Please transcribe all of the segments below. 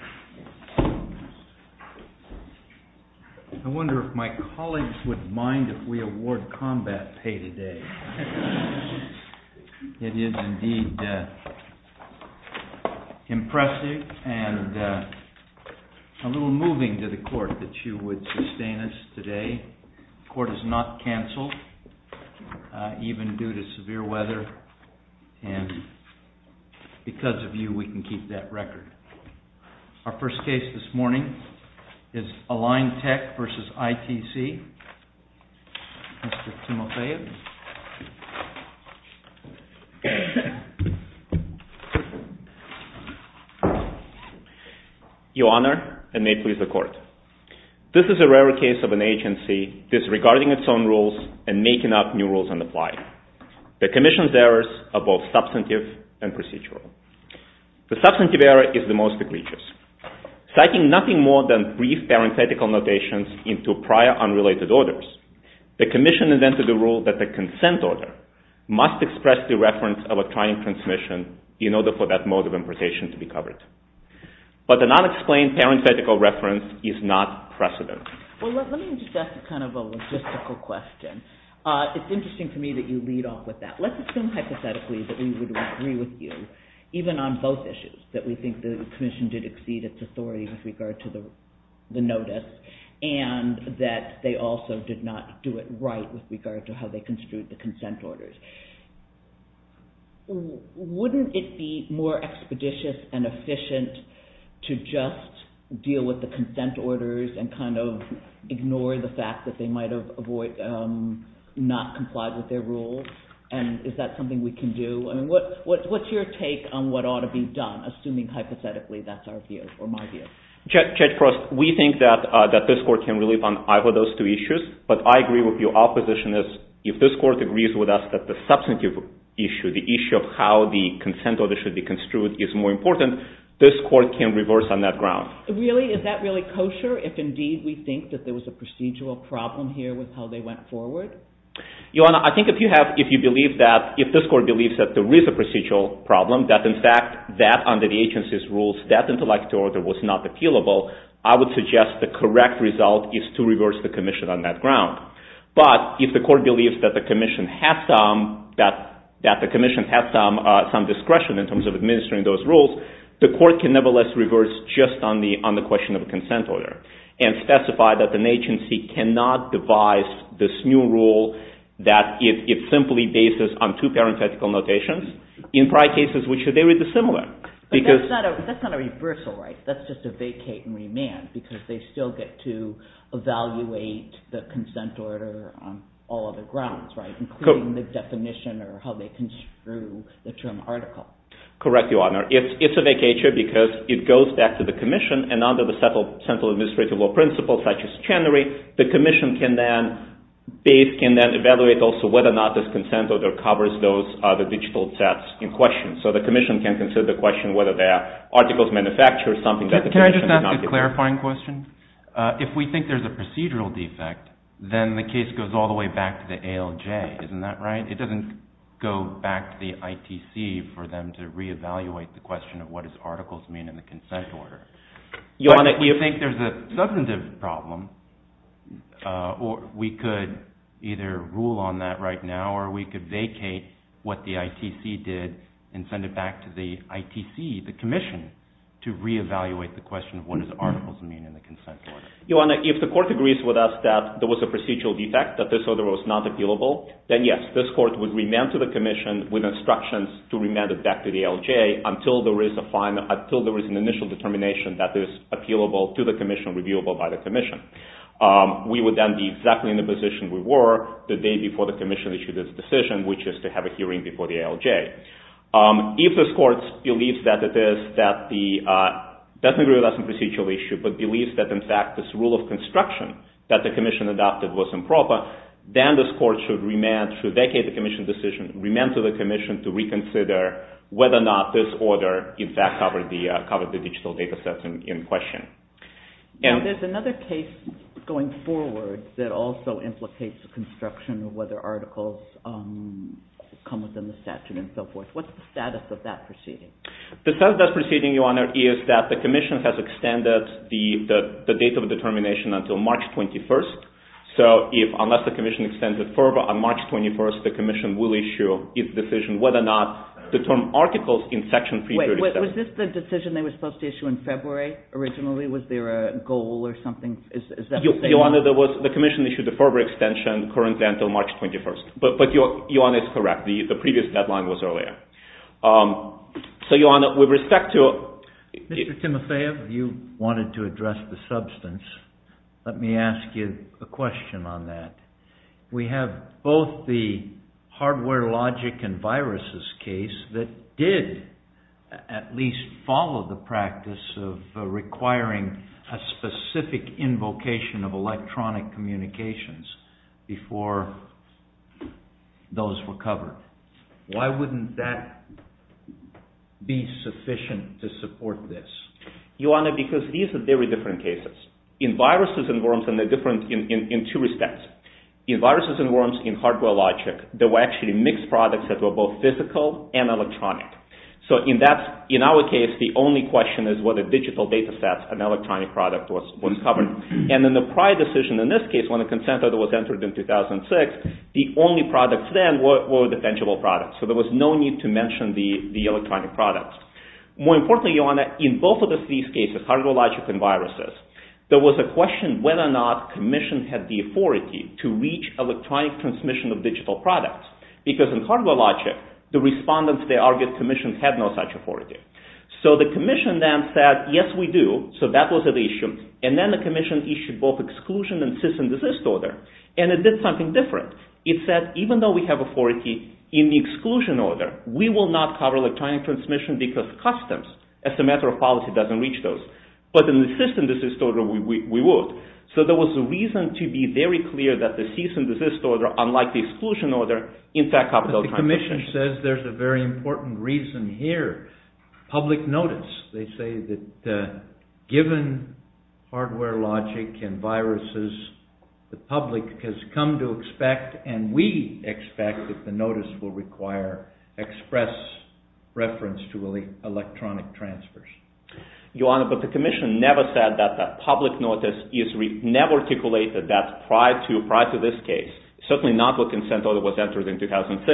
I wonder if my colleagues would mind if we award combat pay today. It is indeed impressive and a little moving to the court that you would sustain us today. The court is not cancelled, even due to severe weather, and because of you we can keep that record. Our first case this morning is Align Tech v. ITC. Mr. Timoteo? Your Honor, and may it please the Court, this is a rare case of an agency disregarding its own rules and making up new rules on the fly. The Commission's errors are both substantive and procedural. The substantive error is the most egregious. Citing nothing more than brief parenthetical notations into prior unrelated orders, the Commission invented the rule that the consent order must express the reference of a trying transmission in order for that mode of importation to be covered. But the unexplained parenthetical reference is not precedent. Let me ask a logistical question. It is interesting to me that you lead off with that. Let's assume hypothetically that we would agree with you, even on both issues, that we think the Commission did exceed its authority with regard to the notice and that they also did not do it right with regard to how they just deal with the consent orders and kind of ignore the fact that they might have not complied with their rules? Is that something we can do? What's your take on what ought to be done, assuming hypothetically that's our view or my view? Judge Frost, we think that this Court can relieve on either of those two issues, but I agree with your opposition is if this Court agrees with us that the substantive issue, the issue of how the consent order should be construed, is more important, this Court can reverse on that ground. Really? Is that really kosher if indeed we think that there was a procedural problem here with how they went forward? Your Honor, I think if you have, if you believe that, if this Court believes that there is a procedural problem, that in fact that under the agency's rules, that intellectual order was not appealable, I would suggest the correct result is to reverse the Commission on that ground. But if the Court believes that the Commission has some discretion in terms of this, let's reverse just on the question of the consent order and specify that an agency cannot devise this new rule that it simply bases on two parenthetical notations in prior cases, which are very dissimilar. But that's not a reversal, right? That's just a vacate and remand, because they still get to evaluate the consent order on all other grounds, right? Including the definition or how they construe the term article. Correct, Your Honor. It's a vacature because it goes back to the Commission, and under the Central Administrative Law principles, such as Chenery, the Commission can then base, can then evaluate also whether or not this consent order covers those other digital sets in question. So the Commission can consider the question whether the articles manufactured something that the Commission did not do. Can I just ask a clarifying question? If we think there's a procedural defect, then the case goes all the way back to the ALJ, isn't that right? It doesn't go back to the ITC for them to re-evaluate the question of what does articles mean in the consent order. Your Honor, if... But if we think there's a substantive problem, we could either rule on that right now, or we could vacate what the ITC did and send it back to the ITC, the Commission, to re-evaluate the question of what does articles mean in the consent order. Your Honor, if the Court agrees with us that there was a procedural defect, that this order was not appealable, then yes, this Court would remand to the Commission with instructions to remand it back to the ALJ until there is an initial determination that is appealable to the Commission, reviewable by the Commission. We would then be exactly in the position we were the day before the Commission issued its decision, which is to have a hearing before the ALJ. If this Court believes that it is that the... doesn't agree with us on procedural issue, but believes that, in fact, this rule of construction that the Commission adopted was improper, then this Court should remand, should vacate the Commission's decision, remand to the Commission to reconsider whether or not this order, in fact, covered the digital data sets in question. Now, there's another case going forward that also implicates the construction of whether articles come within the statute and so forth. What's the status of that proceeding? The status of that proceeding, Your Honor, is that the Commission has extended the date of determination until March 21st. So, unless the Commission extends it further, on March 21st, the Commission will issue its decision whether or not the term articles in Section 337... Wait, was this the decision they were supposed to issue in February originally? Was there a goal or something? Is that what they wanted? Your Honor, the Commission issued a further extension currently until March 21st. But Your Honor, it's correct. The previous deadline was earlier. So, Your Honor, with respect to... Mr. Timoteev, you wanted to address the substance. Let me ask you a question on that. We have both the hardware logic and viruses case that did, at least, follow the practice of requiring a specific invocation of electronic communications before those were covered. Why wouldn't that be sufficient to support this? Your Honor, because these are very different cases. In viruses and worms, they're different in two respects. In viruses and worms, in hardware logic, there were actually mixed products that were both physical and electronic. So, in our case, the only question is whether digital data sets and electronic product was covered. And in the prior decision, in this case, when a consent order was entered in 2006, the only products then were the tangible products. So, there was no need to mention the electronic products. More importantly, Your Honor, in both of these cases, hardware logic and viruses, there was a question whether or not commissions had the authority to reach electronic transmission of digital products. Because in hardware logic, the respondents, they argued, commissions had no such authority. So, the commission then said, yes, we do. So, that was the issue. And then the commission issued both exclusion and cyst and desist order. And it did something different. It said, even though we have authority in the exclusion order, we will not cover electronic transmission because customs, as a matter of policy, doesn't reach those. But in the cyst and desist order, we would. So, there was a reason to be very clear that the cyst and desist order, unlike the exclusion order, in fact covered electronic transmission. But the commission says there's a very important reason here, public notice. They say that given hardware logic and viruses, the public has come to expect, and we expect that the notice will require express reference to electronic transfers. Your Honor, but the commission never said that the public notice is never articulated that prior to this case, certainly not with consent order that was entered in 2006,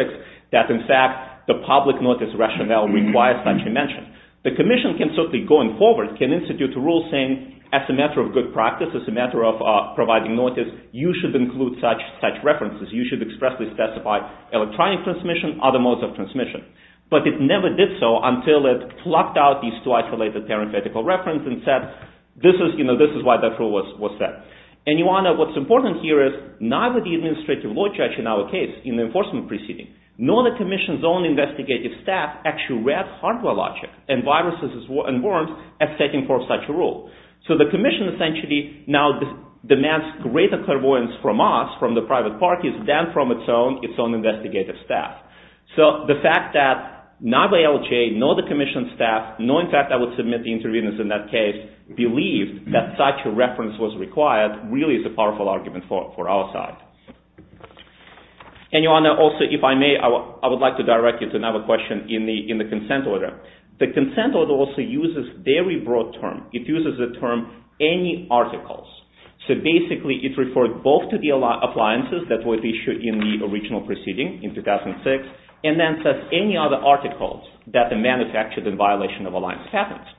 that in fact the public notice rationale requires such a mention. The commission can certainly, going forward, can institute a rule saying, as a matter of good practice, as a matter of providing notice, you should include such references. You should expressly specify electronic transmission, other modes of transmission. But it never did so until it plucked out these two isolated parenthetical references and said, this is why that rule was set. And Your Honor, what's important here is neither the administrative law judge in our case, in the enforcement proceeding, nor the commission's own investigative staff actually read hardware logic and viruses and worms as setting forth such a rule. So the commission essentially now demands greater clairvoyance from us, from the private parties, than from its own I would submit the interveners in that case believed that such a reference was required really is a powerful argument for our side. And Your Honor, also if I may, I would like to direct you to another question in the consent order. The consent order also uses a very broad term. It uses the term any articles. So basically it refers both to the appliances that were issued in the original proceeding in 2006, and then says any other articles that are manufactured in violation of Alliance patents.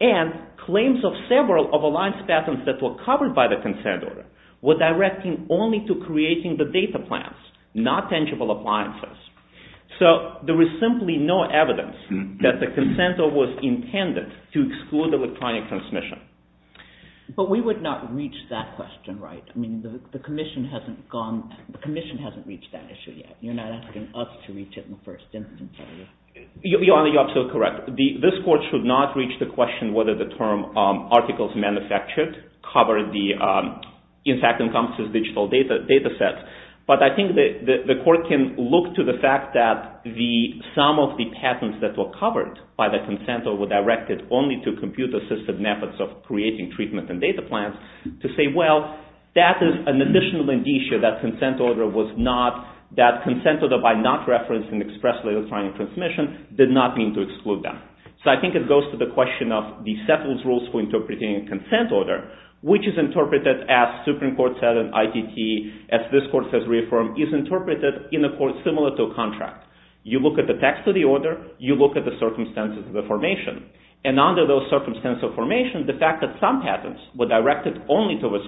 And claims of several of Alliance patents that were covered by the consent order were directing only to creating the data plans, not tangible appliances. So there was simply no evidence that the consent order was intended to exclude electronic transmission. But we would not reach that question, right? I mean, the commission hasn't reached that issue yet. You're not asking us to reach it in the first instance, are you? Your Honor, you're absolutely correct. This court should not reach the question whether the term articles manufactured cover the, in fact encompasses digital data sets. But I think the court can look to the fact that the sum of the patents that were covered by the consent order were directed only to computer-assisted methods of creating treatment and data plans to say, well, that is an additional indicia that consent order was not, that consent order by not referencing expressly electronic transmission did not mean to exclude that. So I think it goes to the question of the settles rules for interpreting a consent order, which is interpreted as Supreme Court said in ITT, as this court has reaffirmed, is interpreted in a court similar to a contract. You look at the text of the order, you look at the circumstances of the formation. And under those circumstances of formation, the fact that some patents were directed only towards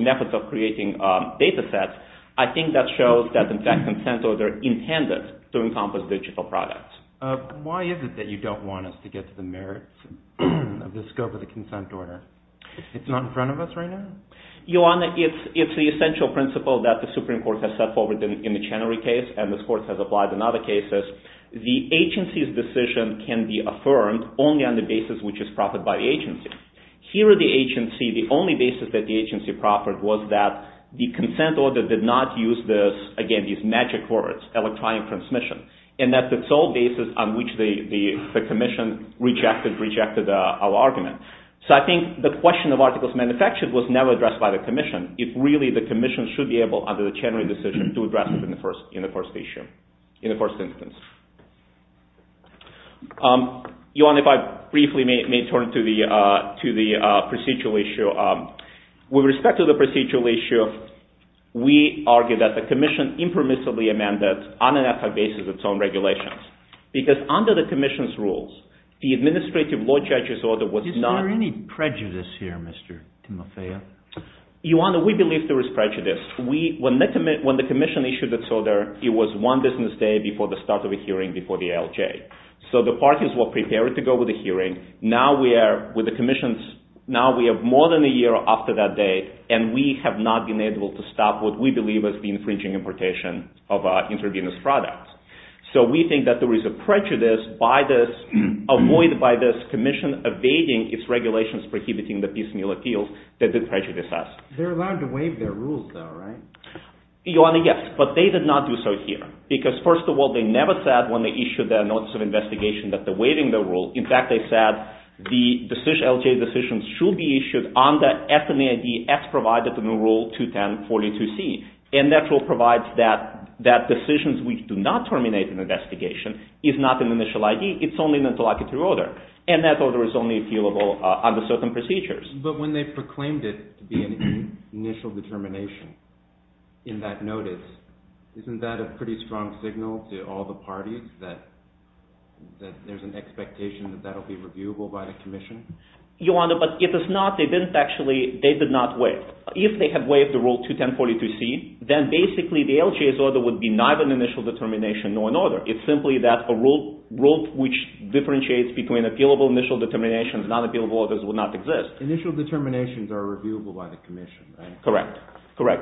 methods of creating data sets, I think that shows that in fact consent order intended to encompass digital products. Why is it that you don't want us to get to the merits of the scope of the consent order? It's not in front of us right now? Your Honor, it's the essential principle that the Supreme Court has set forward in the Chenery case and this court has applied in other cases. The agency's decision can be affirmed only on the basis which is proffered by the agency. Here at the agency, the only basis that the agency proffered was that the consent order did not use this, again, these magic words, electronic transmission. And that's the sole basis on which the commission rejected our argument. So I think the question of articles of manufacture was never addressed by the commission. It's really the commission should be able, under the Chenery decision, to address it in the first issue, in the first instance. Your Honor, if I briefly may turn to the procedural issue. With respect to the procedural issue, we argue that the commission impermissibly amended, on an ethical basis, its own regulations. Because under the commission's rules, the administrative law judge's order was not… Is there any prejudice here, Mr. Timoteo? Your Honor, we believe there is prejudice. When the commission issued its order, it was one business day before the start of a hearing before the ALJ. So the parties were prepared to go with a hearing. Now we have more than a year after that day, and we have not been able to stop what we believe has been infringing importation of intravenous products. So we think that there is a prejudice avoided by this commission evading its regulations prohibiting the piecemeal appeals that did prejudice us. They're allowed to waive their rules, though, right? Your Honor, yes. But they did not do so here. Because first of all, they never said when they issued their notice of investigation that they're waiving their rule. In fact, they said the ALJ decisions should be issued under FMA ID X provided in Rule 210-42C. And that rule provides that decisions which do not terminate an investigation is not an initial ID. It's only an interlocutory order. And that order is only appealable under certain procedures. But when they proclaimed it to be an initial determination in that notice, isn't that a pretty strong signal to all the parties that there's an expectation that that will be reviewable by the commission? Your Honor, but if it's not, they did not waive. If they had waived the Rule 210-42C, then basically the ALJ's order would be neither an initial determination nor an order. It's simply that a rule which differentiates between appealable initial determinations and unappealable orders would not exist. Initial determinations are reviewable by the commission, right? Correct.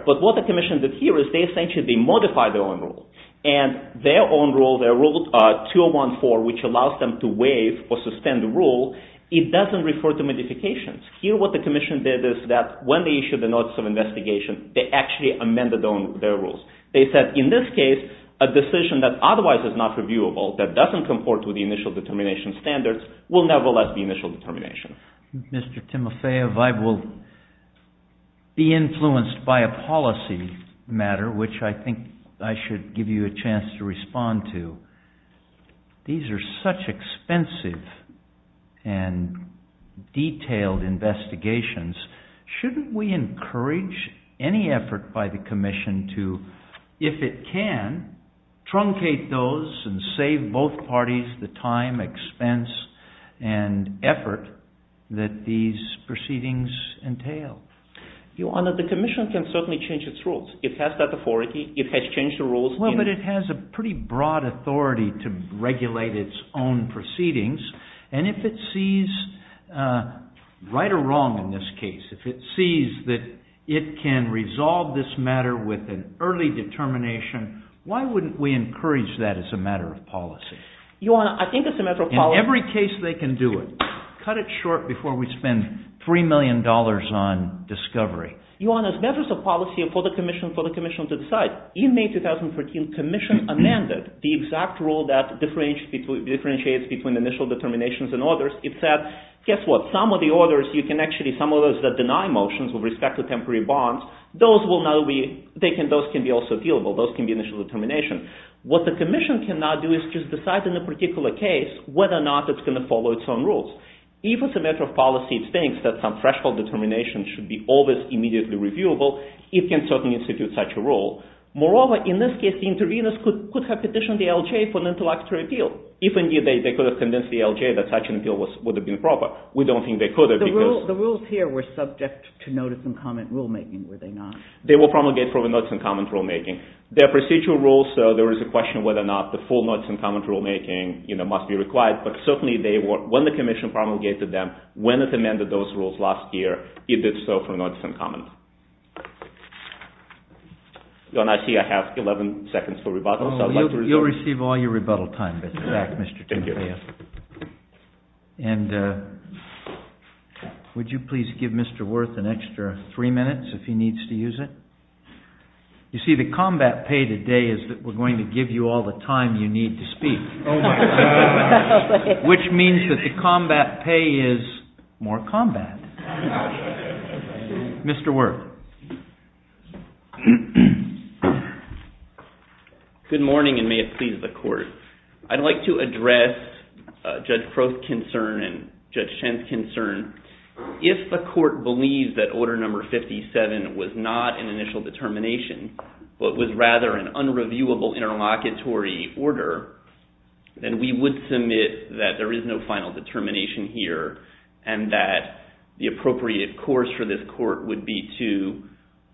But what the commission did here is they essentially modified their own rule. And their own rule, their Rule 201-4, which allows them to waive or suspend the rule, it doesn't refer to modifications. Here what the commission did is that when they issued the notice of investigation, they actually amended their rules. They said, in this case, a decision that otherwise is not reviewable, that doesn't comport with the initial determination standards, will nevertheless be initial determination. Mr. Timofeyev, I will be influenced by a policy matter, which I think I should give you a chance to respond to. These are such expensive and detailed investigations. Shouldn't we encourage any effort by the commission to, if it can, truncate those and save both parties the time, expense, and effort that these proceedings entail? Your Honor, the commission can certainly change its rules. It has that authority. It has changed the rules. Well, but it has a pretty broad authority to regulate its own proceedings. And if it sees, right or wrong in this case, if it sees that it can resolve this matter with an early determination, why wouldn't we encourage that as a matter of policy? Your Honor, I think it's a matter of policy. In every case they can do it. Cut it short before we spend $3 million on discovery. Your Honor, it's a matter of policy for the commission to decide. In May 2013, the commission amended the exact rule that differentiates between initial determinations and orders. It said, guess what? Some of the orders, you can actually, some of those that deny motions with respect to temporary bonds, those can be also dealable. Those can be initial determination. What the commission can now do is just decide in a particular case whether or not it's going to follow its own rules. If it's a matter of policy, it thinks that some threshold determination should be always immediately reviewable, it can certainly institute such a rule. Moreover, in this case, the interveners could have petitioned the LJ for an intellectual appeal. If indeed they could have convinced the LJ that such an appeal would have been proper. We don't think they could have because— The rules here were subject to notice and comment rulemaking, were they not? They were promulgated for the notice and comment rulemaking. They are procedural rules, so there is a question whether or not the full notice and comment rulemaking must be required, but certainly they were—when the commission promulgated them, when it amended those rules last year, it did so for notice and comment. Your Honor, I see I have 11 seconds for rebuttal. You'll receive all your rebuttal time. Thank you. And would you please give Mr. Wirth an extra three minutes if he needs to use it? You see, the combat pay today is that we're going to give you all the time you need to speak, which means that the combat pay is more combat. Mr. Wirth. Good morning, and may it please the Court. I'd like to address Judge Crow's concern and Judge Shen's concern. If the Court believes that Order No. 57 was not an initial determination, but was rather an unreviewable interlocutory order, then we would submit that there is no final determination here and that the appropriate course for this Court would be to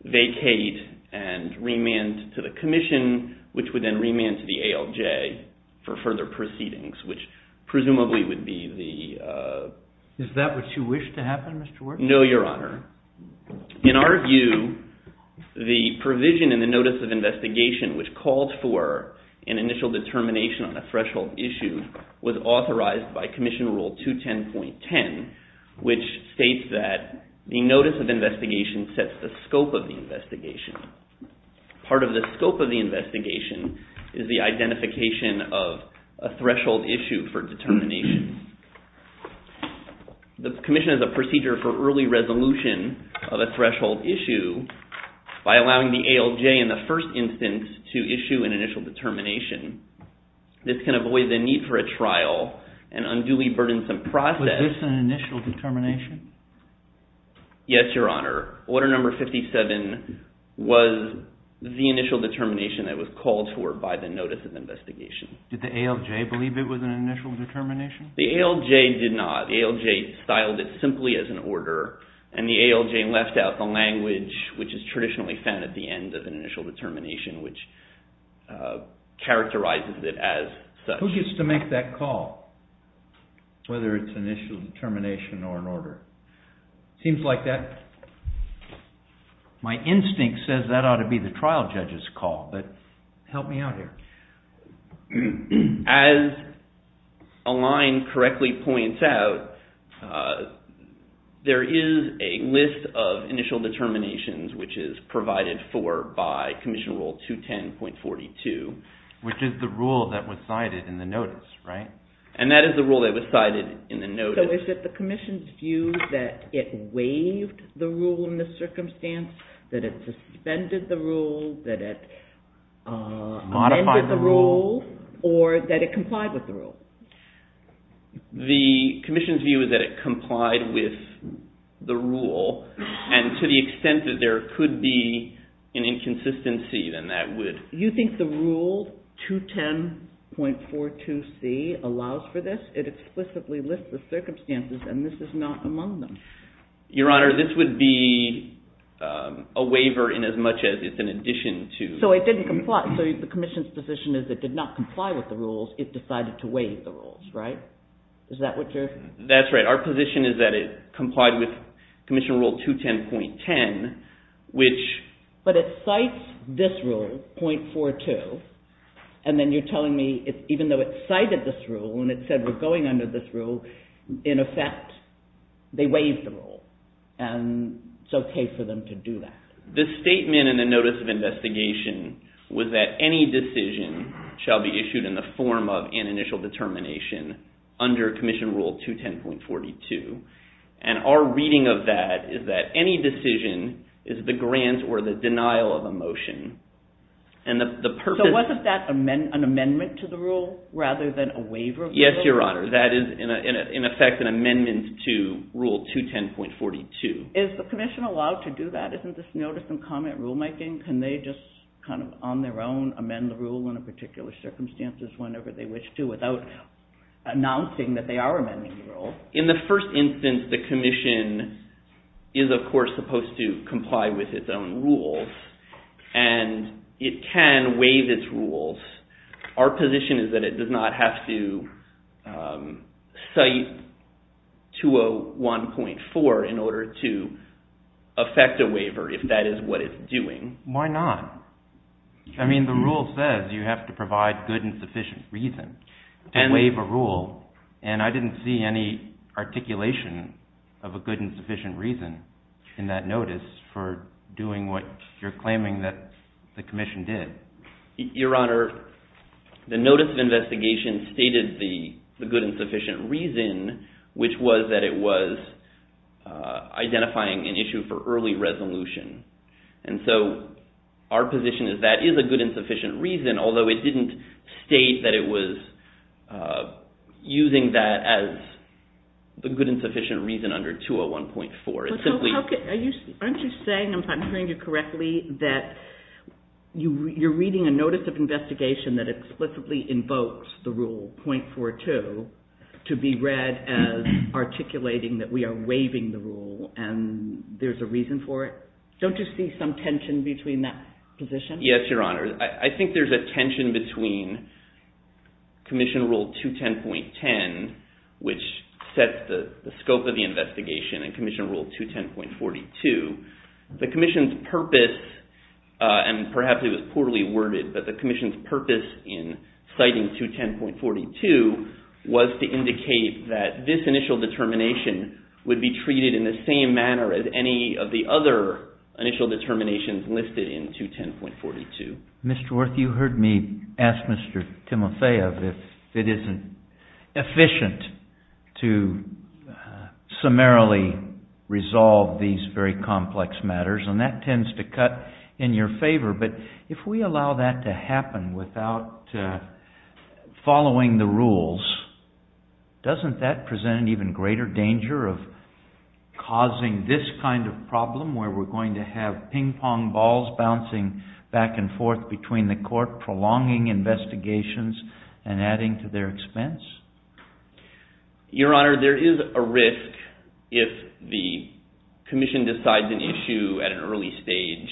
vacate and remand to the commission, which would then remand to the ALJ for further proceedings, which presumably would be the— Is that what you wish to happen, Mr. Wirth? No, Your Honor. In our view, the provision in the Notice of Investigation which called for an initial determination on a threshold issue was authorized by Commission Rule 210.10, which states that the Notice of Investigation sets the scope of the investigation. Part of the scope of the investigation is the identification of a threshold issue for determination. The commission has a procedure for early resolution of a threshold issue by allowing the ALJ in the first instance to issue an initial determination. This can avoid the need for a trial, an unduly burdensome process— Was this an initial determination? Yes, Your Honor. Order No. 57 was the initial determination that was called for by the Notice of Investigation. Did the ALJ believe it was an initial determination? The ALJ did not. The ALJ styled it simply as an order, and the ALJ left out the language which is traditionally found at the end of an initial determination, which characterizes it as such. Who gets to make that call, whether it's an initial determination or an order? Seems like that—my instinct says that ought to be the trial judge's call, but help me out here. As Alain correctly points out, there is a list of initial determinations which is provided for by Commission Rule 210.42. Which is the rule that was cited in the notice, right? And that is the rule that was cited in the notice. So is it the commission's view that it waived the rule in the circumstance, that it suspended the rule, that it amended the rule, or that it complied with the rule? The commission's view is that it complied with the rule, and to the extent that there could be an inconsistency, then that would— You think the Rule 210.42c allows for this? It explicitly lists the circumstances, and this is not among them. Your Honor, this would be a waiver in as much as it's an addition to— So it didn't comply. So the commission's position is it did not comply with the rules. It decided to waive the rules, right? Is that what you're— That's right. Our position is that it complied with Commission Rule 210.10, which— But it cites this rule, .42, and then you're telling me, even though it cited this rule and it said we're going under this rule, in effect, they waived the rule, and it's okay for them to do that. The statement in the Notice of Investigation was that any decision shall be issued in the form of an initial determination under Commission Rule 210.42, and our reading of that is that any decision is the grant or the denial of a motion, and the purpose— So wasn't that an amendment to the rule rather than a waiver of the rule? Yes, Your Honor. That is, in effect, an amendment to Rule 210.42. Is the commission allowed to do that? Isn't this notice and comment rulemaking? Can they just kind of on their own amend the rule in a particular circumstances whenever they wish to without announcing that they are amending the rule? In the first instance, the commission is, of course, supposed to comply with its own rules, and it can waive its rules. Our position is that it does not have to cite 201.4 in order to effect a waiver if that is what it's doing. Why not? I mean, the rule says you have to provide good and sufficient reason to waive a rule, and I didn't see any articulation of a good and sufficient reason in that notice for doing what you're claiming that the commission did. Your Honor, the notice of investigation stated the good and sufficient reason, which was that it was identifying an issue for early resolution. And so our position is that is a good and sufficient reason, although it didn't state that it was using that as the good and sufficient reason under 201.4. Aren't you saying, if I'm hearing you correctly, that you're reading a notice of investigation that explicitly invokes the rule .42 to be read as articulating that we are waiving the rule and there's a reason for it? Don't you see some tension between that position? Yes, Your Honor. I think there's a tension between Commission Rule 210.10, which sets the scope of the investigation, and Commission Rule 210.42. The Commission's purpose, and perhaps it was poorly worded, but the Commission's purpose in citing 210.42 was to indicate that this initial determination would be treated in the same manner as any of the other initial determinations listed in 210.42. Mr. Wirth, you heard me ask Mr. Timoteo if it isn't efficient to summarily resolve these very complex matters, and that tends to cut in your favor. But if we allow that to happen without following the rules, doesn't that present an even greater danger of causing this kind of problem where we're going to have ping pong balls bouncing back and forth between the court prolonging investigations and adding to their expense? Your Honor, there is a risk if the Commission decides an issue at an early stage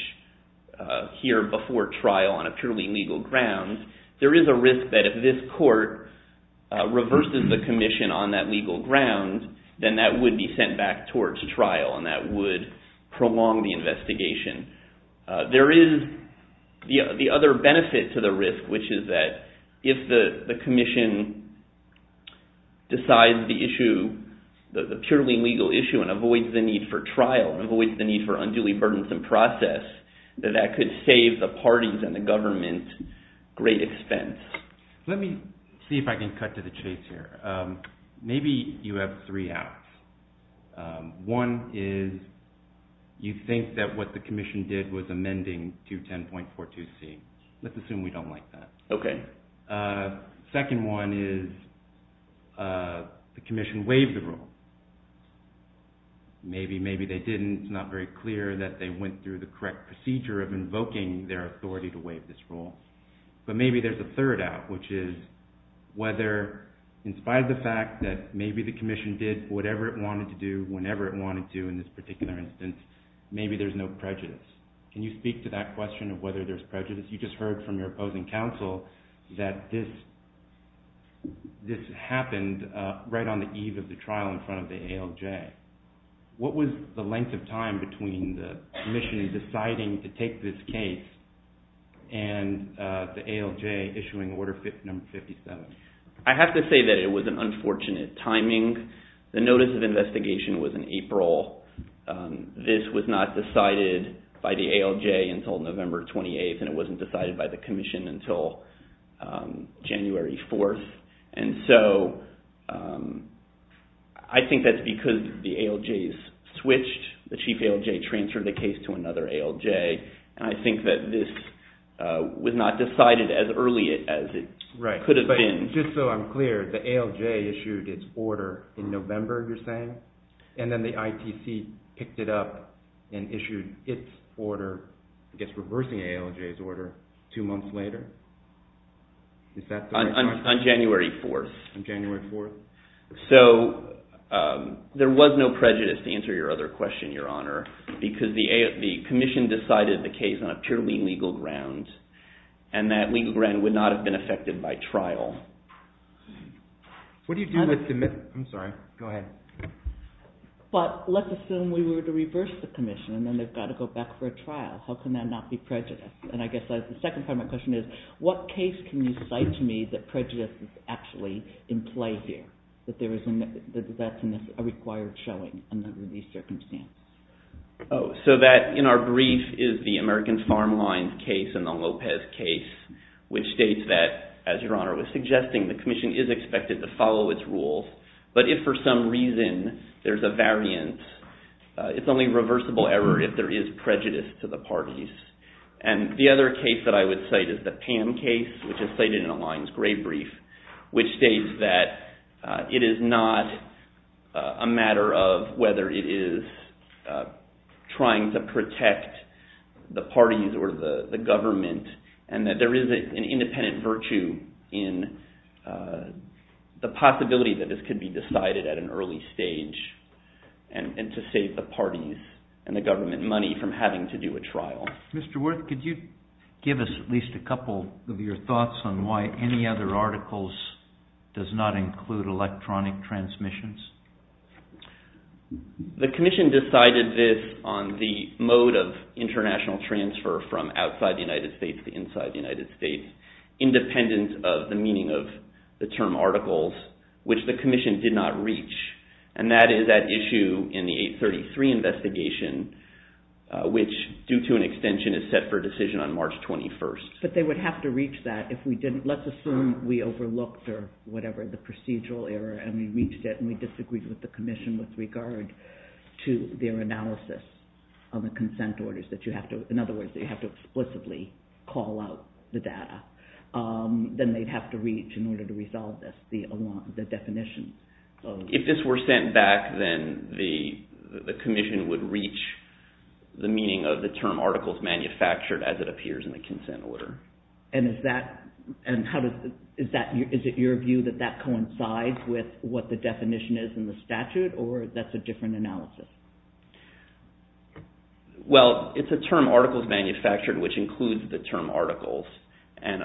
here before trial on a purely legal ground, there is a risk that if this court reverses the Commission on that legal ground, then that would be sent back towards trial, and that would prolong the investigation. There is the other benefit to the risk, which is that if the Commission decides the issue, the purely legal issue, and avoids the need for trial, and avoids the need for unduly burdensome process, that that could save the parties and the government great expense. Let me see if I can cut to the chase here. Maybe you have three outs. One is you think that what the Commission did was amending 210.42C. Let's assume we don't like that. Okay. Second one is the Commission waived the rule. Maybe, maybe they didn't. It's not very clear that they went through the correct procedure of invoking their authority to waive this rule. But maybe there's a third out, which is whether, in spite of the fact that maybe the Commission did whatever it wanted to do whenever it wanted to in this particular instance, maybe there's no prejudice. Can you speak to that question of whether there's prejudice? You just heard from your opposing counsel that this happened right on the eve of the trial in front of the ALJ. What was the length of time between the Commission deciding to take this case and the ALJ issuing Order No. 57? I have to say that it was an unfortunate timing. The notice of investigation was in April. This was not decided by the ALJ until November 28th, and it wasn't decided by the Commission until January 4th. I think that's because the ALJs switched. The Chief ALJ transferred the case to another ALJ. I think that this was not decided as early as it could have been. And just so I'm clear, the ALJ issued its order in November, you're saying? And then the ITC picked it up and issued its order, I guess reversing the ALJ's order, two months later? On January 4th. On January 4th. So there was no prejudice, to answer your other question, Your Honor, because the Commission decided the case on a purely legal ground, and that legal ground would not have been affected by trial. But let's assume we were to reverse the Commission, and then they've got to go back for a trial. How can that not be prejudice? And I guess the second part of my question is, what case can you cite to me that prejudice is actually in play here? That that's a required showing under these circumstances? So that, in our brief, is the American Farm Line case and the Lopez case, which states that, as Your Honor was suggesting, the Commission is expected to follow its rules, but if for some reason there's a variance, it's only reversible error if there is prejudice to the parties. And the other case that I would cite is the Pam case, which is cited in Align's gray brief, which states that it is not a matter of whether it is trying to protect the parties or the government, and that there is an independent virtue in the possibility that this could be decided at an early stage, and to save the parties and the government money from having to do a trial. Mr. Wirth, could you give us at least a couple of your thoughts on why any other articles does not include electronic transmissions? The Commission decided this on the mode of international transfer from outside the United States to inside the United States, independent of the meaning of the term articles, which the Commission did not reach. And that is at issue in the 833 investigation, which, due to an extension, is set for decision on March 21st. But they would have to reach that if we didn't, let's assume we overlooked, or whatever, the procedural error, and we reached it and we disagreed with the Commission with regard to their analysis of the consent orders, that you have to, in other words, that you have to explicitly call out the data. Then they'd have to reach, in order to resolve this, the definition. If this were sent back, then the Commission would reach the meaning of the term articles manufactured as it appears in the consent order. Is it your view that that coincides with what the definition is in the statute, or that's a different analysis? Well, it's a term articles manufactured, which includes the term articles. And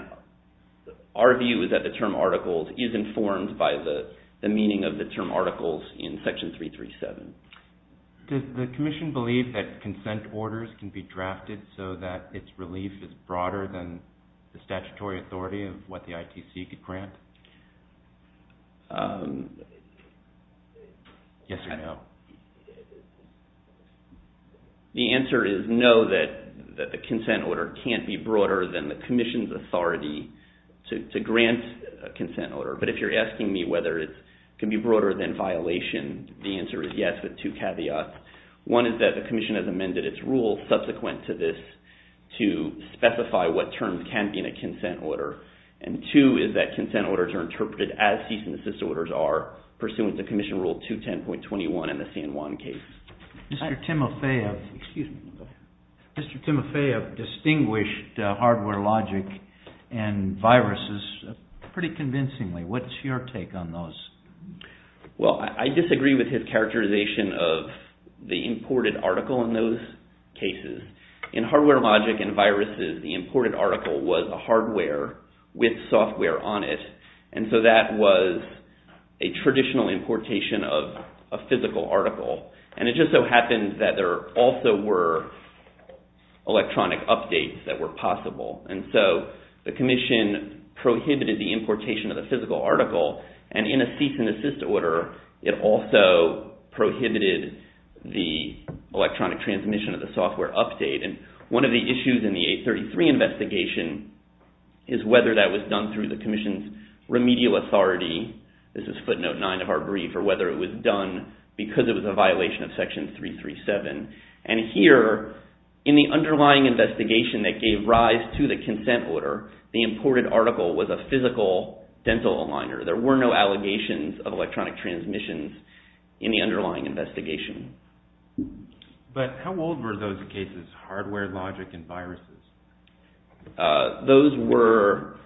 our view is that the term articles is informed by the meaning of the term articles in Section 337. Does the Commission believe that consent orders can be drafted so that its relief is broader than the statutory authority of what the ITC could grant? Yes or no. The answer is no, that the consent order can't be broader than the Commission's authority to grant a consent order. But if you're asking me whether it can be broader than violation, the answer is yes with two caveats. One is that the Commission has amended its rule subsequent to this to specify what terms can be in a consent order. And two is that consent orders are interpreted as cease and desist orders are, pursuant to Commission Rule 210.21 in the San Juan case. Mr. Timofeyev distinguished hardware logic and viruses pretty convincingly. What's your take on those? Well, I disagree with his characterization of the imported article in those cases. In hardware logic and viruses, the imported article was a hardware with software on it. And so that was a traditional importation of a physical article. And it just so happens that there also were electronic updates that were possible. And so the Commission prohibited the importation of the physical article. And in a cease and desist order, it also prohibited the electronic transmission of the software update. And one of the issues in the 833 investigation is whether that was done through the Commission's remedial authority. This is footnote 9 of our brief, or whether it was done because it was a violation of Section 337. And here, in the underlying investigation that gave rise to the consent order, the imported article was a physical dental aligner. There were no allegations of electronic transmissions in the underlying investigation. But how old were those cases, hardware logic and viruses? Those were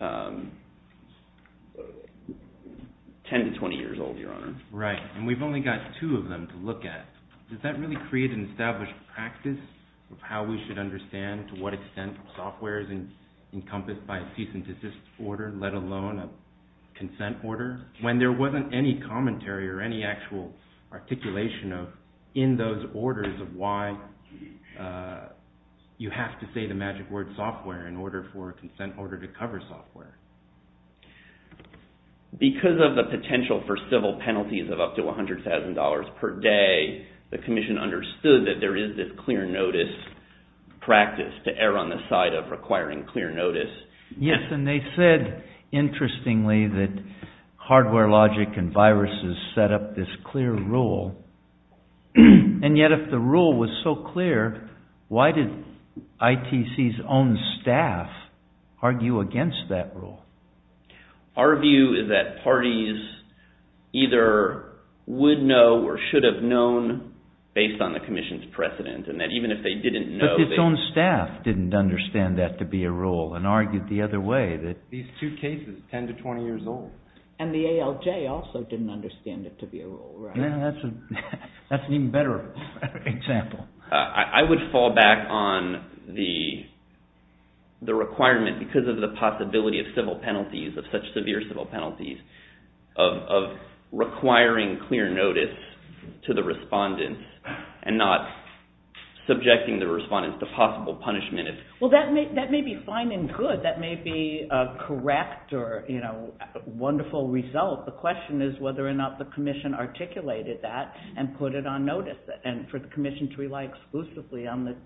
10 to 20 years old, Your Honor. Right. And we've only got two of them to look at. Does that really create an established practice of how we should understand to what extent software is encompassed by a cease and desist order, let alone a consent order, when there wasn't any commentary or any actual articulation in those orders of why you have to say the magic word software in order for a consent order to cover software? Because of the potential for civil penalties of up to $100,000 per day, the Commission understood that there is this clear notice practice to err on the side of requiring clear notice. Yes, and they said, interestingly, that hardware logic and viruses set up this clear rule. And yet, if the rule was so clear, why did ITC's own staff argue against that rule? Our view is that parties either would know or should have known, based on the Commission's precedent, and that even if they didn't know... But its own staff didn't understand that to be a rule and argued the other way, that these two cases, 10 to 20 years old... And the ALJ also didn't understand it to be a rule, right? That's an even better example. I would fall back on the requirement, because of the possibility of civil penalties, of such severe civil penalties, of requiring clear notice to the respondents and not subjecting the respondents to possible punishment. Well, that may be fine and good. That may be a correct or wonderful result. The question is whether or not the Commission articulated that and put it on notice. And for the Commission to rely exclusively on the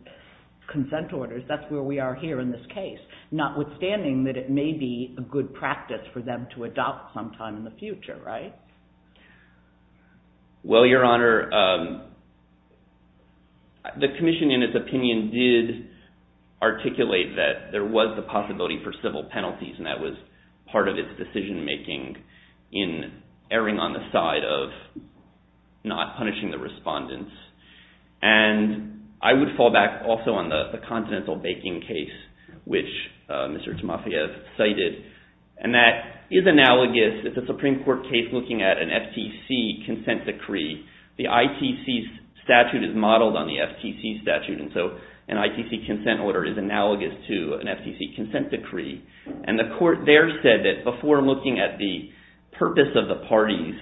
consent orders, that's where we are here in this case. Notwithstanding that it may be a good practice for them to adopt sometime in the future, right? Well, Your Honor, the Commission, in its opinion, did articulate that there was the possibility for civil penalties, and that was part of its decision-making in erring on the side of not punishing the respondents. And I would fall back also on the Continental Baking case, which Mr. Timofeyev cited, and that is analogous. It's a Supreme Court case looking at an FTC consent decree. The ITC statute is modeled on the FTC statute, and so an ITC consent order is analogous to an FTC consent decree. And the court there said that before looking at the purpose of the parties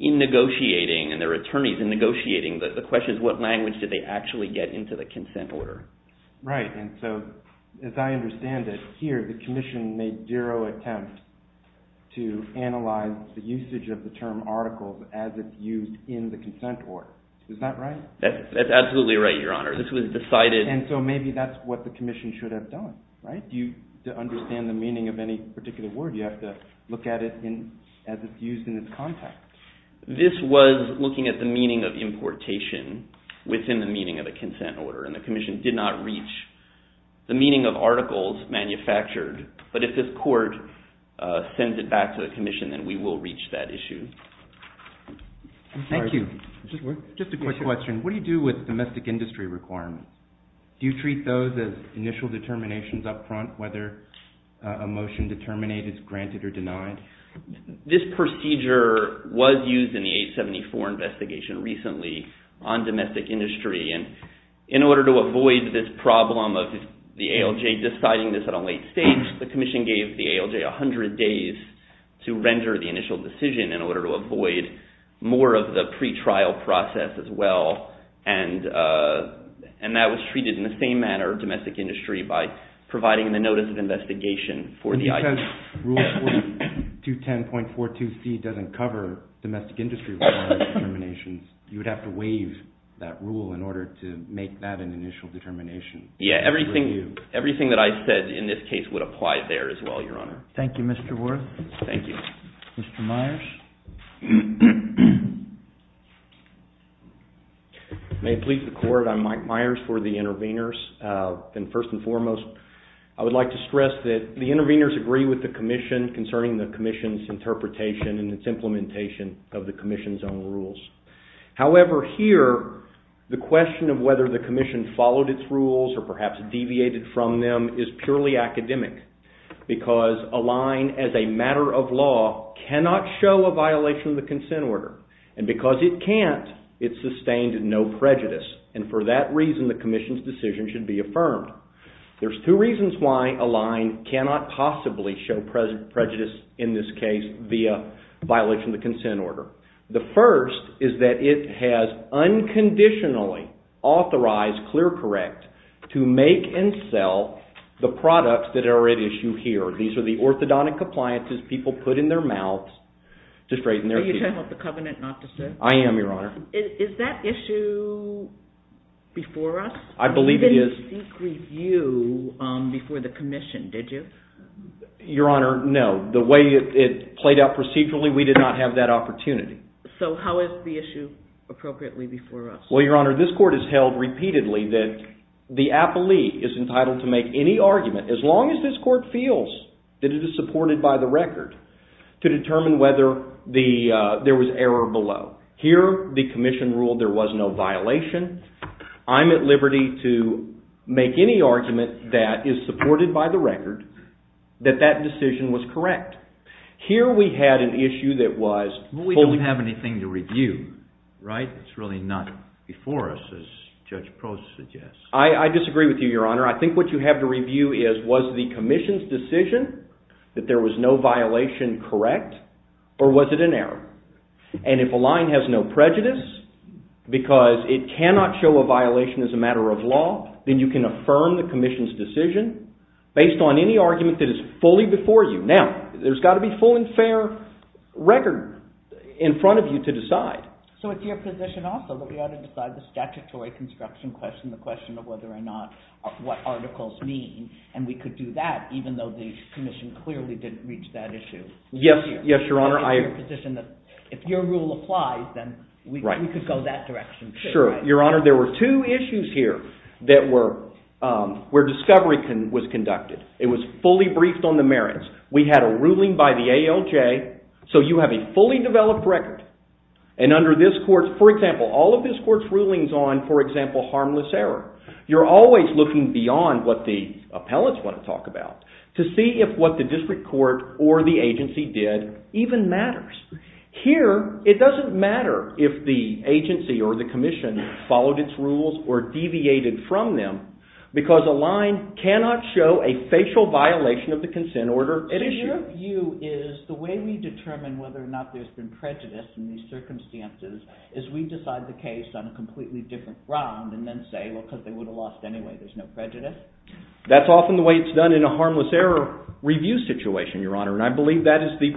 in negotiating, and their attorneys in negotiating, the question is what language did they actually get into the consent order. Right. And so, as I understand it, here the Commission made zero attempt to analyze the usage of the term articles as it's used in the consent order. Is that right? That's absolutely right, Your Honor. This was decided... And so maybe that's what the Commission should have done, right? To understand the meaning of any particular word, you have to look at it as it's used in its context. This was looking at the meaning of importation within the meaning of the consent order, and the Commission did not reach the meaning of articles manufactured. But if this court sends it back to the Commission, then we will reach that issue. Thank you. Just a quick question. What do you do with domestic industry requirements? Do you treat those as initial determinations up front, whether a motion to terminate is granted or denied? This procedure was used in the 874 investigation recently on domestic industry, and in order to avoid this problem of the ALJ deciding this at a late stage, the Commission gave the ALJ 100 days to render the initial decision in order to avoid more of the pre-trial process as well. And that was treated in the same manner, domestic industry, by providing the notice of investigation for the item. Because Rule 4210.42C doesn't cover domestic industry requirements and determinations, you would have to waive that rule in order to make that an initial determination. Yeah, everything that I said in this case would apply there as well, Your Honor. Thank you, Mr. Worth. Thank you. Mr. Myers. May it please the Court, I'm Mike Myers for the interveners. And first and foremost, I would like to stress that the interveners agree with the Commission concerning the Commission's interpretation and its implementation of the Commission's own rules. However, here, the question of whether the Commission followed its rules or perhaps deviated from them is purely academic. Because a line as a matter of law cannot show a violation of the consent order. And because it can't, it's sustained in no prejudice. And for that reason, the Commission's decision should be affirmed. There's two reasons why a line cannot possibly show prejudice in this case via violation of the consent order. The first is that it has unconditionally authorized ClearCorrect to make and sell the products that are at issue here. These are the orthodontic appliances people put in their mouths to straighten their feet. Are you talking about the covenant not to sue? I am, Your Honor. Is that issue before us? I believe it is. You didn't seek review before the Commission, did you? Your Honor, no. The way it played out procedurally, we did not have that opportunity. So how is the issue appropriately before us? Well, Your Honor, this Court has held repeatedly that the appellee is entitled to make any argument, as long as this Court feels that it is supported by the record, to determine whether there was error below. Here, the Commission ruled there was no violation. I'm at liberty to make any argument that is supported by the record that that decision was correct. Here, we had an issue that was… But we don't have anything to review, right? It's really not before us, as Judge Prost suggests. I disagree with you, Your Honor. I think what you have to review is was the Commission's decision that there was no violation correct, or was it an error? And if a line has no prejudice, because it cannot show a violation as a matter of law, then you can affirm the Commission's decision based on any argument that is fully before you. Now, there's got to be full and fair record in front of you to decide. So it's your position also that we ought to decide the statutory construction question, the question of whether or not what articles mean, and we could do that even though the Commission clearly didn't reach that issue. Yes, Your Honor. It's your position that if your rule applies, then we could go that direction, too. Sure. Your Honor, there were two issues here where discovery was conducted. It was fully briefed on the merits. We had a ruling by the ALJ, so you have a fully developed record. And under this court, for example, all of this court's rulings on, for example, harmless error, you're always looking beyond what the appellants want to talk about to see if what the district court or the agency did even matters. Here, it doesn't matter if the agency or the Commission followed its rules or deviated from them, because a line cannot show a facial violation of the consent order at issue. So your view is the way we determine whether or not there's been prejudice in these circumstances is we decide the case on a completely different ground and then say, well, because they would have lost anyway, there's no prejudice? That's often the way it's done in a harmless error review situation, Your Honor, and I believe that is the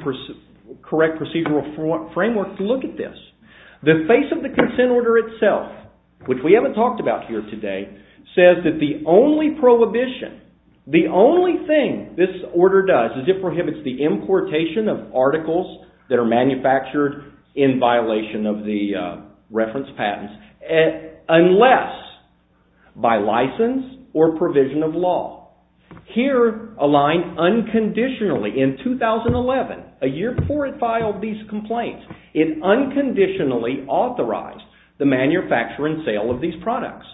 correct procedural framework to look at this. The face of the consent order itself, which we haven't talked about here today, says that the only prohibition, the only thing this order does is it prohibits the importation of articles that are manufactured in violation of the reference patents unless by license or provision of law. Here, a line unconditionally, in 2011, a year before it filed these complaints, it unconditionally authorized the manufacture and sale of these products.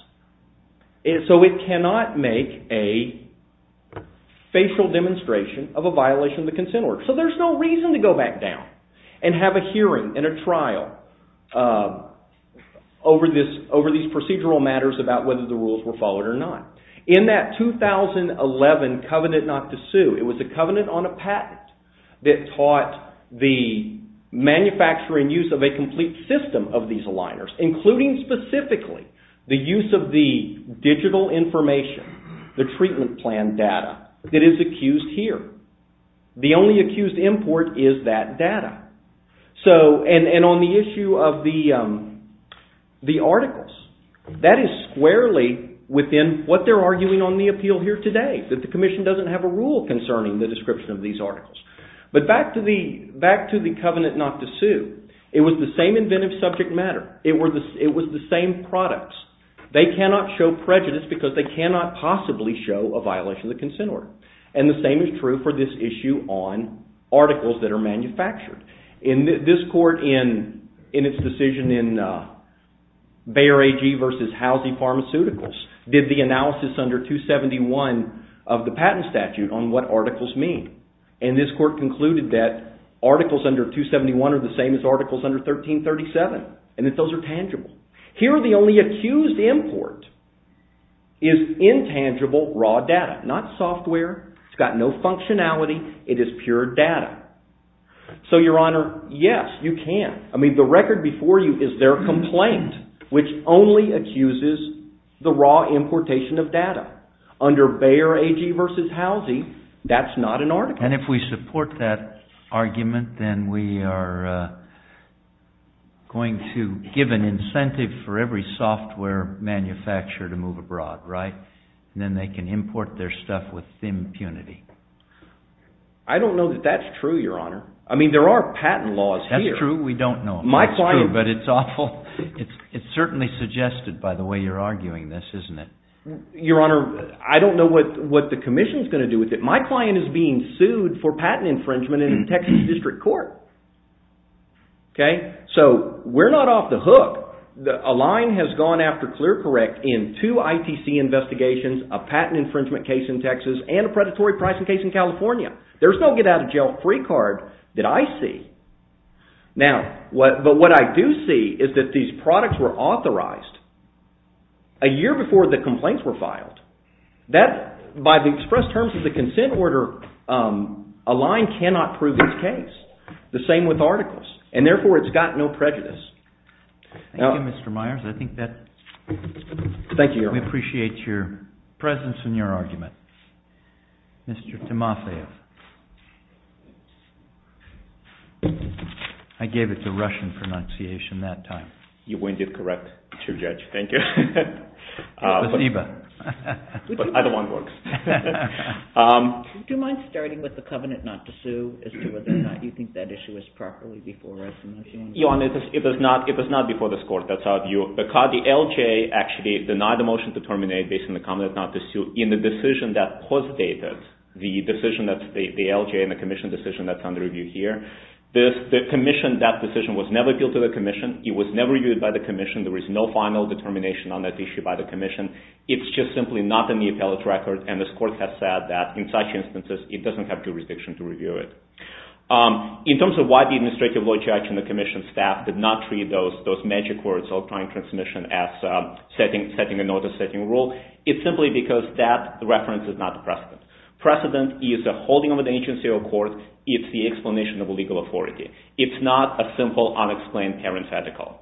So it cannot make a facial demonstration of a violation of the consent order. So there's no reason to go back down and have a hearing and a trial over these procedural matters about whether the rules were followed or not. In that 2011 covenant not to sue, it was a covenant on a patent that taught the manufacture and use of a complete system of these aligners, including specifically the use of the digital information, the treatment plan data, that is accused here. The only accused import is that data. And on the issue of the articles, that is squarely within what they're arguing on the appeal here today, that the commission doesn't have a rule concerning the description of these articles. But back to the covenant not to sue, it was the same inventive subject matter. It was the same products. They cannot show prejudice because they cannot possibly show a violation of the consent order. And the same is true for this issue on articles that are manufactured. This court, in its decision in Bayer AG versus Housie Pharmaceuticals, did the analysis under 271 of the patent statute on what articles mean. And this court concluded that articles under 271 are the same as articles under 1337, and that those are tangible. Here, the only accused import is intangible raw data, not software. It's got no functionality. It is pure data. So, Your Honor, yes, you can. I mean, the record before you is their complaint, which only accuses the raw importation of data. Under Bayer AG versus Housie, that's not an article. And if we support that argument, then we are going to give an incentive for every software manufacturer to move abroad, right? Then they can import their stuff with impunity. I don't know that that's true, Your Honor. I mean, there are patent laws here. That's true. We don't know if that's true, but it's awful. It's certainly suggested by the way you're arguing this, isn't it? Your Honor, I don't know what the commission is going to do with it. My client is being sued for patent infringement in a Texas district court. So, we're not off the hook. A line has gone after ClearCorrect in two ITC investigations, a patent infringement case in Texas, and a predatory pricing case in California. There's no get out of jail free card that I see. But what I do see is that these products were authorized a year before the complaints were filed. That, by the express terms of the consent order, a line cannot prove its case. The same with articles. And therefore, it's got no prejudice. Thank you, Mr. Myers. I think that... Thank you, Your Honor. We appreciate your presence and your argument. Mr. Timofeyev. I gave it the Russian pronunciation that time. You winded correct, Mr. Judge. Thank you. But either one works. Do you mind starting with the covenant not to sue, as to whether or not you think that issue is properly before us in this case? Your Honor, it was not before this court. That's how I view it. The LJ actually denied the motion to terminate based on the covenant not to sue. In the decision that posited the decision that the LJ and the commission decision that's under review here, the commission, that decision, was never appealed to the commission. It was never used by the commission. There is no final determination on that issue by the commission. It's just simply not in the appellate record, and this court has said that, in such instances, it doesn't have jurisdiction to review it. In terms of why the administrative law judge and the commission staff did not treat those magic words of client transmission as setting a notice, setting a rule, it's simply because that reference is not the precedent. Precedent is a holding of an agency or court. It's the explanation of legal authority. It's not a simple, unexplained parent's article.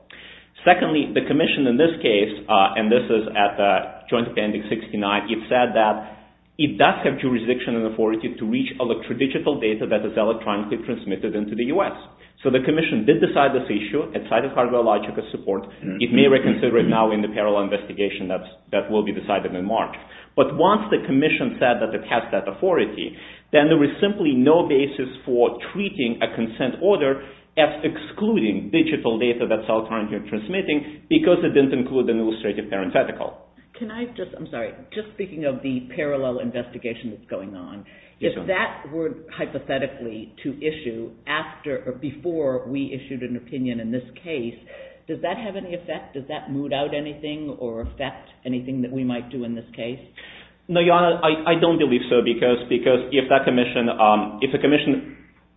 Secondly, the commission, in this case, and this is at Joint Appendix 69, it said that it does have jurisdiction and authority to reach electrodigital data that is electronically transmitted into the U.S. So the commission did decide this issue. It cited cargo logical support. It may reconsider it now in the parallel investigation that will be decided in March. But once the commission said that it has that authority, then there was simply no basis for treating a consent order as excluding digital data that's electronically transmitting because it didn't include an illustrative parent's article. Can I just, I'm sorry, just speaking of the parallel investigation that's going on, if that were hypothetically to issue after or before we issued an opinion in this case, does that have any effect? Does that moot out anything or affect anything that we might do in this case? No, Your Honor, I don't believe so because if the commission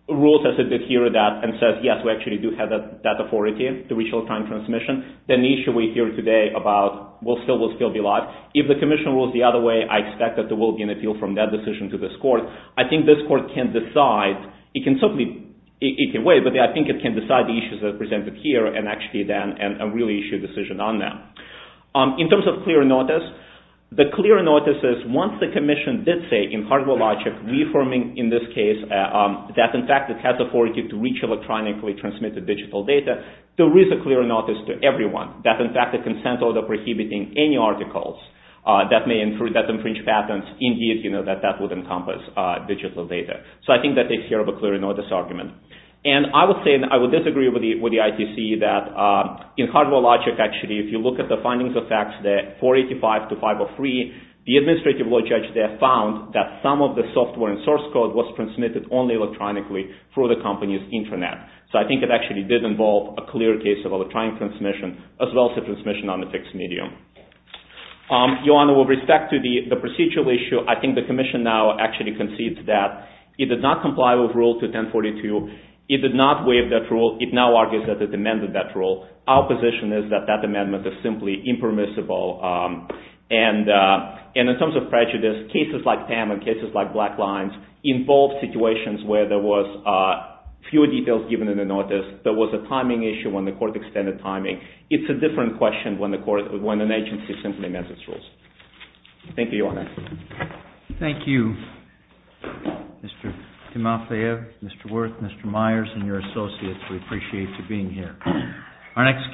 rules as it did here and says, yes, we actually do have that authority to reach electronic transmission, then the issue we hear today will still be alive. If the commission rules the other way, I expect that there will be an appeal from that decision to this court. I think this court can decide. It can wait, but I think it can decide the issues that are presented here and actually then really issue a decision on them. In terms of clear notice, the clear notice is once the commission did say, in hardware logic, reaffirming in this case that, in fact, it has the authority to reach electronically transmitted digital data, there is a clear notice to everyone that, in fact, the consent order prohibiting any articles that may infringe patents, indeed, that that would encompass digital data. So I think that takes care of a clear notice argument. And I would say, and I would disagree with the ITC, that in hardware logic, actually, if you look at the findings of FACTS 485-503, the administrative law judge there found that some of the software and source code was transmitted only electronically through the company's intranet. So I think it actually did involve a clear case of electronic transmission as well as the transmission on a fixed medium. Your Honor, with respect to the procedural issue, I think the commission now actually concedes that it did not comply with Rule 21042. It did not waive that rule. It now argues that it amended that rule. Our position is that that amendment is simply impermissible and in terms of prejudice, cases like TAM and cases like Black Lines involve situations where there was fewer details given in the notice, there was a timing issue when the court extended timing. It's a different question when an agency simply amends its rules. Thank you, Your Honor. Thank you, Mr. Timofeev, Mr. Wirth, Mr. Myers, and your associates. We appreciate you being here.